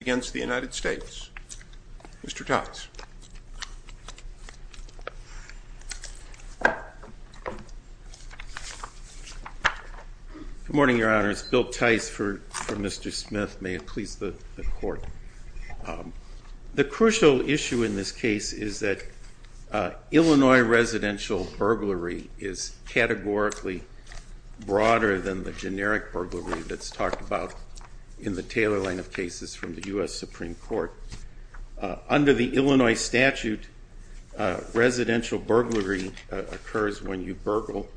against the United States. Mr. Totz. Good morning, Your Honor. It's Bill Tice for Mr. Smith. May it please the Court. The crucial issue in this case is that Illinois residential burglary is categorically broader than the generic burglary that's talked about in the Taylor line of cases from the U.S. Supreme Court. Under the Illinois statute, residential burglary occurs when you burgle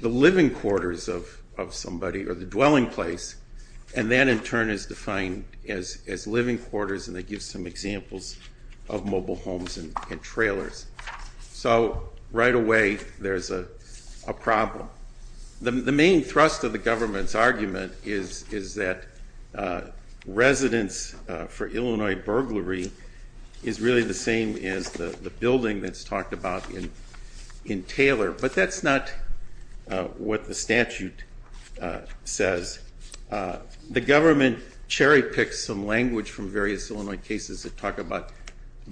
the living quarters of somebody or the dwelling place, and that in turn is defined as living quarters, and it gives some examples of mobile homes and trailers. So right away, there's a problem. The main thrust of the government's argument is that residence for Illinois burglary is really the same as the building that's talked about in Taylor, but that's not what the statute says. The government cherry-picks some language from various Illinois cases that talk about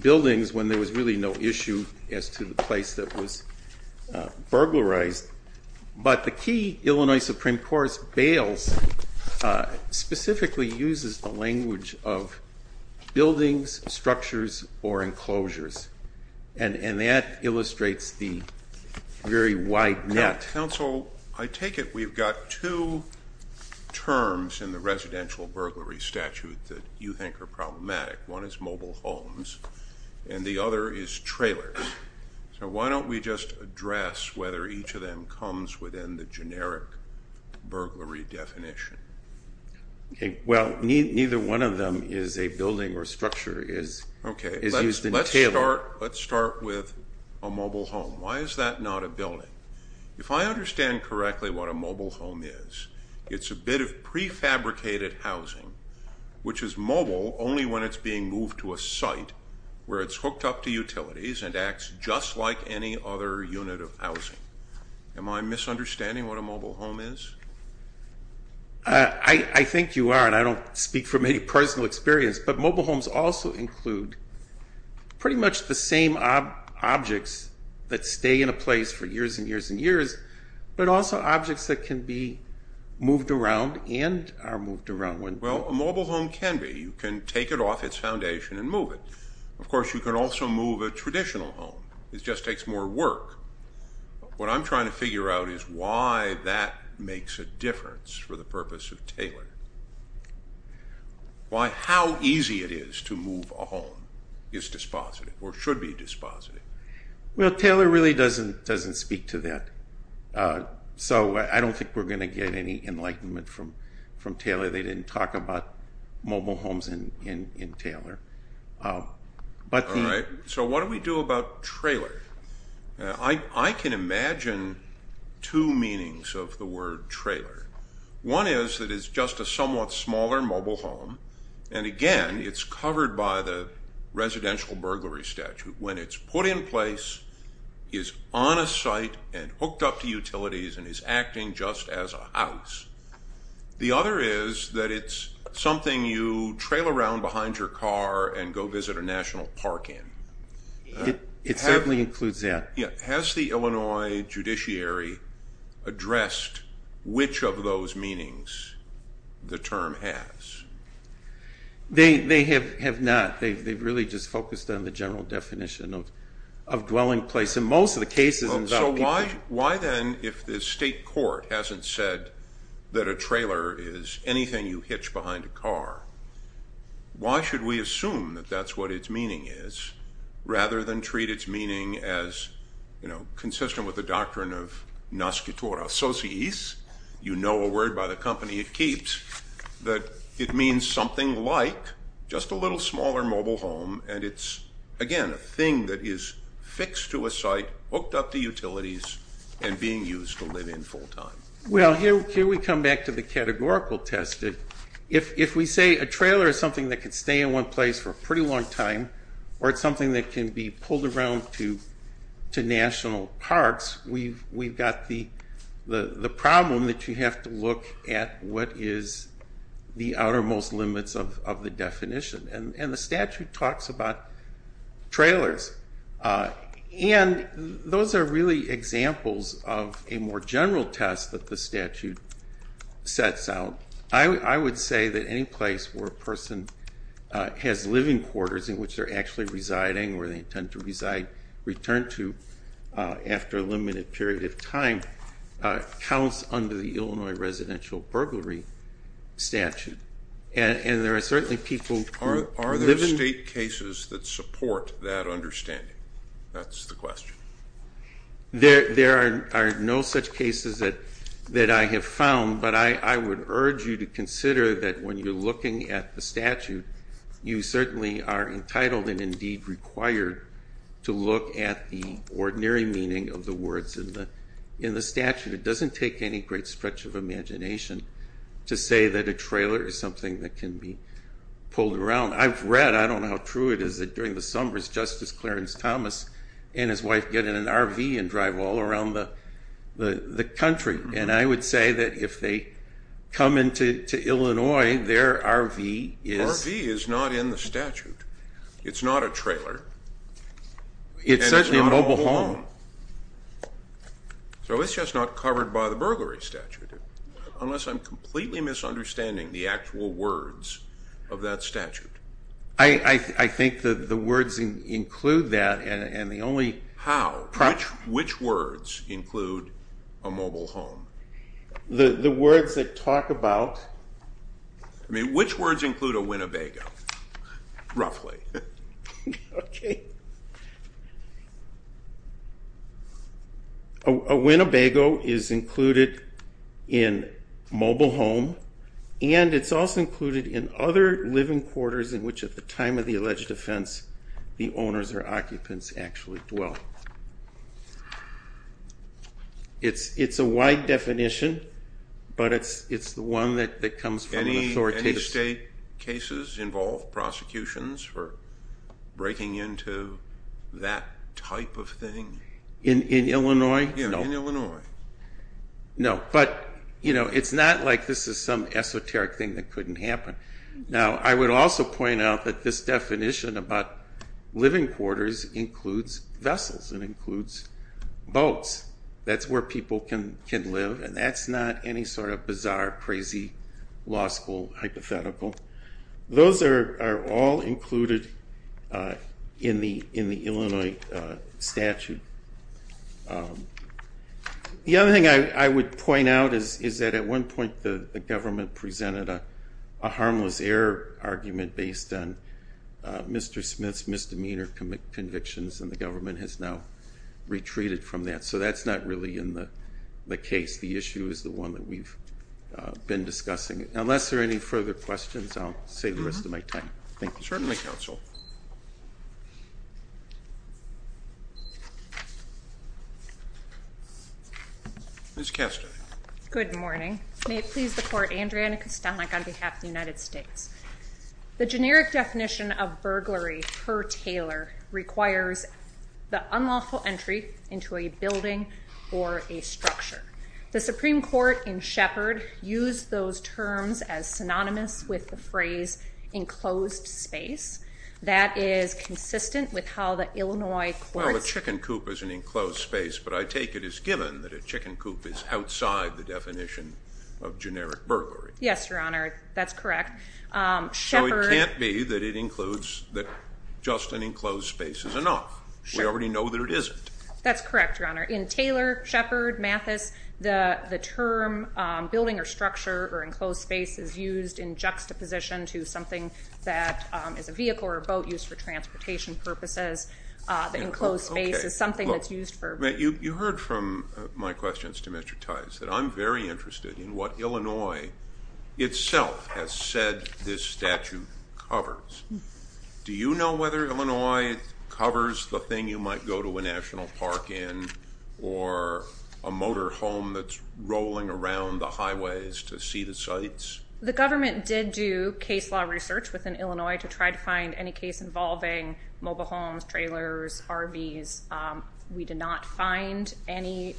buildings when there was really no issue as to the place that was burglarized, but the key Illinois Supreme Court's bails specifically uses the language of buildings, structures, or enclosures, and that illustrates the very wide net. Counsel, I take it we've got two terms in the residential burglary statute that you think are problematic. One is mobile homes, and the other is trailers. So why don't we just address whether each of them comes within the generic burglary definition? Well, neither one of them is a building or structure, is used in Taylor. Okay, let's start with a mobile home. Why is that not a building? If I understand correctly what a mobile home is, it's a bit of prefabricated housing, which is mobile only when it's being moved to a site where it's hooked up to utilities and acts just like any other unit of housing. Am I misunderstanding what a mobile home is? I think you are, and I don't speak from any personal experience, but mobile homes also include pretty much the same objects that stay in a place for years and years and years, but also objects that can be moved around and are moved around. Well, a mobile home can be. You can take it off its foundation and move it. Of course, you can also move a traditional home. It just takes more work. What I'm trying to figure out is why that makes a difference for the purpose of Taylor. Why, how easy it is to move a home is dispositive, or should be dispositive. Well, Taylor really doesn't speak to that, so I don't think we're going to get any enlightenment from Taylor. They didn't talk about mobile homes in Taylor. All right, so what do we do about trailer? I can imagine two meanings of the word trailer. One is that it's just a somewhat smaller mobile home, and again, it's covered by the residential burglary statute. When it's put in place, is on a site and hooked up to utilities and is acting just as a house. The other is that it's something you trail around behind your car and go visit a national park in. It certainly includes that. Has the Illinois judiciary addressed which of those meanings the term has? They have not. They've really just focused on the general definition of dwelling place. In most of the cases, it's about people. Why then, if the state court hasn't said that a trailer is anything you hitch behind a car, why should we assume that that's what its meaning is rather than treat its meaning as consistent with the doctrine of nascitor associis, you know a word by the company it keeps, that it means something like just a little smaller mobile home, and it's, again, a thing that is fixed to a site, hooked up to utilities, and being used to live in full time. Well, here we come back to the categorical test. If we say a trailer is something that can stay in one place for a pretty long time, or it's something that can be pulled around to national parks, we've got the problem that you have to look at what is the outermost limits of the definition. And the statute talks about trailers. And those are really examples of a more general test that the statute sets out. I would say that any place where a person has living quarters in which they're actually residing, or they intend to return to after a limited period of time, counts under the Illinois residential burglary statute. And there are certainly people who live in- Are there state cases that support that understanding? That's the question. There are no such cases that I have found, but I would urge you to consider that when you're looking at the statute, you certainly are entitled and indeed required to look at the ordinary meaning of the words in the statute. It doesn't take any great stretch of imagination to say that a trailer is something that can be pulled around. I've read, I don't know how true it is, that during the summers Justice Clarence Thomas and his wife get in an RV and drive all around the country. And I would say that if they come into Illinois, their RV is- RV is not in the statute. It's not a trailer. And it's not a home. It's certainly a mobile home. So it's just not covered by the burglary statute, unless I'm completely misunderstanding the actual words of that statute. I think the words include that, and the only- How? Which words include a mobile home? The words that talk about- I mean, which words include a Winnebago, roughly? Okay. A Winnebago is included in mobile home, and it's also included in other living quarters in which, at the time of the alleged offense, the owners or occupants actually dwell. It's a wide definition, but it's the one that comes from an authoritative- Any state cases involve prosecutions for breaking into that type of thing? In Illinois? Yeah, in Illinois. No, but it's not like this is some esoteric thing that couldn't happen. Now, I would also point out that this definition about living quarters includes vessels. It includes boats. That's where people can live, and that's not any sort of bizarre, crazy, law school hypothetical. Those are all included in the Illinois statute. The other thing I would point out is that, at one point, the government presented a harmless error argument based on Mr. Smith's misdemeanor convictions, and the government has now retreated from that. So that's not really in the case. The issue is the one that we've been discussing. Unless there are any further questions, I'll save the rest of my time. Thank you. Certainly, Counsel. Ms. Kastner. Good morning. May it please the Court, Andrea Ann Kastanek on behalf of the United States. The generic definition of burglary per Taylor requires the unlawful entry into a building or a structure. The Supreme Court in Shepard used those terms as synonymous with the phrase enclosed space. That is consistent with how the Illinois courts- Well, a chicken coop is an enclosed space, but I take it as given that a chicken coop is outside the definition of generic burglary. Yes, Your Honor. That's correct. So it can't be that it includes that just an enclosed space is enough. We already know that it isn't. That's correct, Your Honor. In Taylor, Shepard, Mathis, the term building or structure or enclosed space is used in juxtaposition to something that is a vehicle or a boat used for transportation purposes. The enclosed space is something that's used for- You heard from my questions to Mr. Tice that I'm very interested in what Illinois itself has said this statute covers. Do you know whether Illinois covers the thing you might go to a national park in or a motor home that's rolling around the highways to see the sites? The government did do case law research within Illinois to try to find any case involving mobile homes, trailers, RVs. We did not find any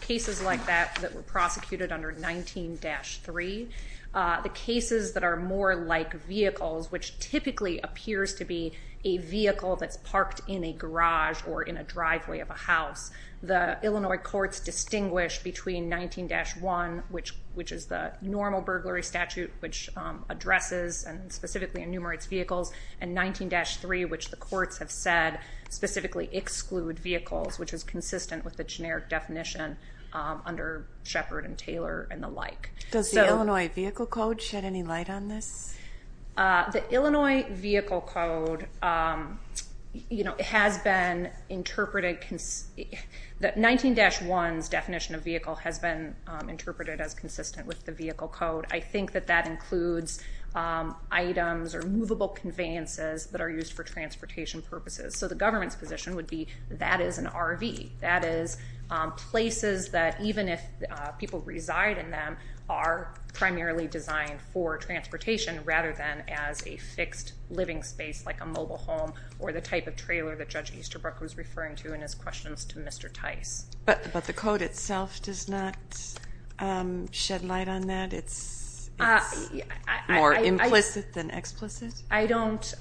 cases like that that were prosecuted under 19-3. The cases that are more like vehicles, which typically appears to be a vehicle that's parked in a garage or in a driveway of a house, the Illinois courts distinguish between 19-1, which is the normal burglary statute, which addresses and specifically enumerates vehicles, and 19-3, which the courts have said specifically exclude vehicles, which is consistent with the generic definition under Shepard and Taylor and the like. Does the Illinois Vehicle Code shed any light on this? The Illinois Vehicle Code has been interpreted- 19-1's definition of vehicle has been interpreted as consistent with the Vehicle Code. I think that that includes items or movable conveyances that are used for transportation purposes. So the government's position would be that is an RV. That is places that, even if people reside in them, are primarily designed for transportation rather than as a fixed living space like a mobile home or the type of trailer that Judge Easterbrook was referring to in his questions to Mr. Tice. But the code itself does not shed light on that? It's more implicit than explicit? I don't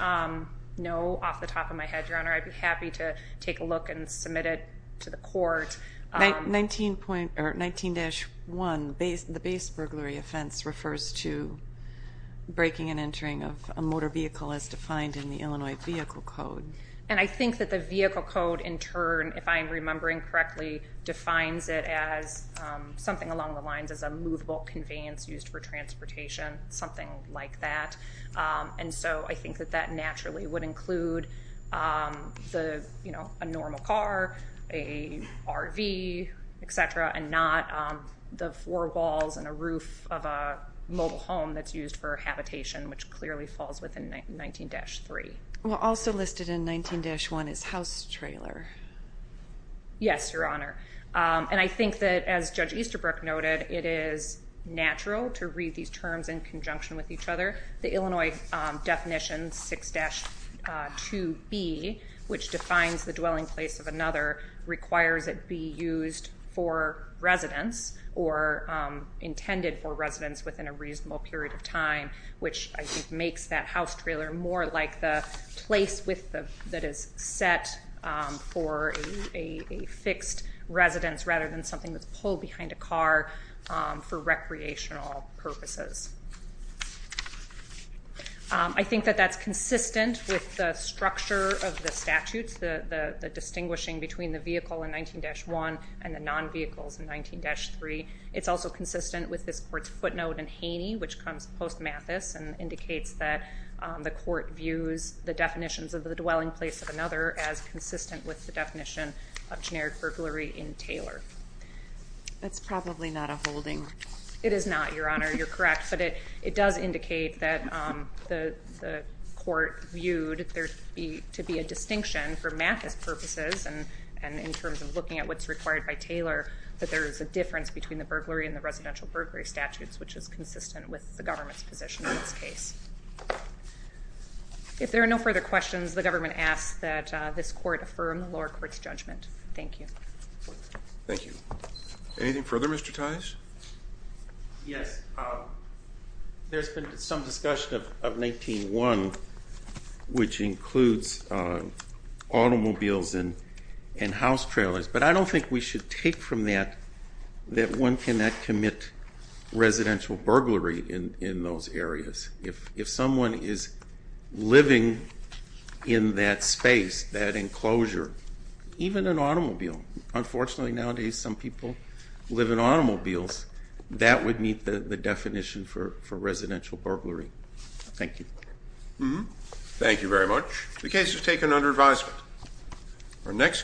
know off the top of my head, Your Honor. I'd be happy to take a look and submit it to the court. 19-1, the base burglary offense, refers to braking and entering of a motor vehicle as defined in the Illinois Vehicle Code. And I think that the Vehicle Code, in turn, if I'm remembering correctly, defines it as something along the lines of a movable conveyance used for transportation, something like that. And so I think that that naturally would include a normal car, a RV, et cetera, and not the four walls and a roof of a mobile home that's used for habitation, which clearly falls within 19-3. Also listed in 19-1 is house trailer. Yes, Your Honor. And I think that, as Judge Easterbrook noted, it is natural to read these terms in conjunction with each other. The Illinois definition, 6-2B, which defines the dwelling place of another, requires it be used for residence or intended for residence within a reasonable period of time, which I think makes that house trailer more like the place that is set for a fixed residence rather than something that's pulled behind a car for recreational purposes. I think that that's consistent with the structure of the statutes, the distinguishing between the vehicle in 19-1 and the non-vehicles in 19-3. It's also consistent with this Court's footnote in Haney, which comes post-Mathis, and indicates that the Court views the definitions of the dwelling place of another as consistent with the definition of generic burglary in Taylor. That's probably not a holding. It is not, Your Honor. You're correct. But it does indicate that the Court viewed there to be a distinction for Mathis purposes, and in terms of looking at what's required by Taylor, that there is a difference between the burglary and the residential burglary statutes, which is consistent with the government's position in this case. If there are no further questions, the government asks that this Court affirm the lower court's judgment. Thank you. Thank you. Anything further, Mr. Tice? Yes. There's been some discussion of 19-1, which includes automobiles and house trailers, but I don't think we should take from that that one cannot commit residential burglary in those areas. If someone is living in that space, that enclosure, even an automobile, unfortunately nowadays some people live in automobiles, that would meet the definition for residential burglary. Thank you. Thank you very much. The case is taken under advisement.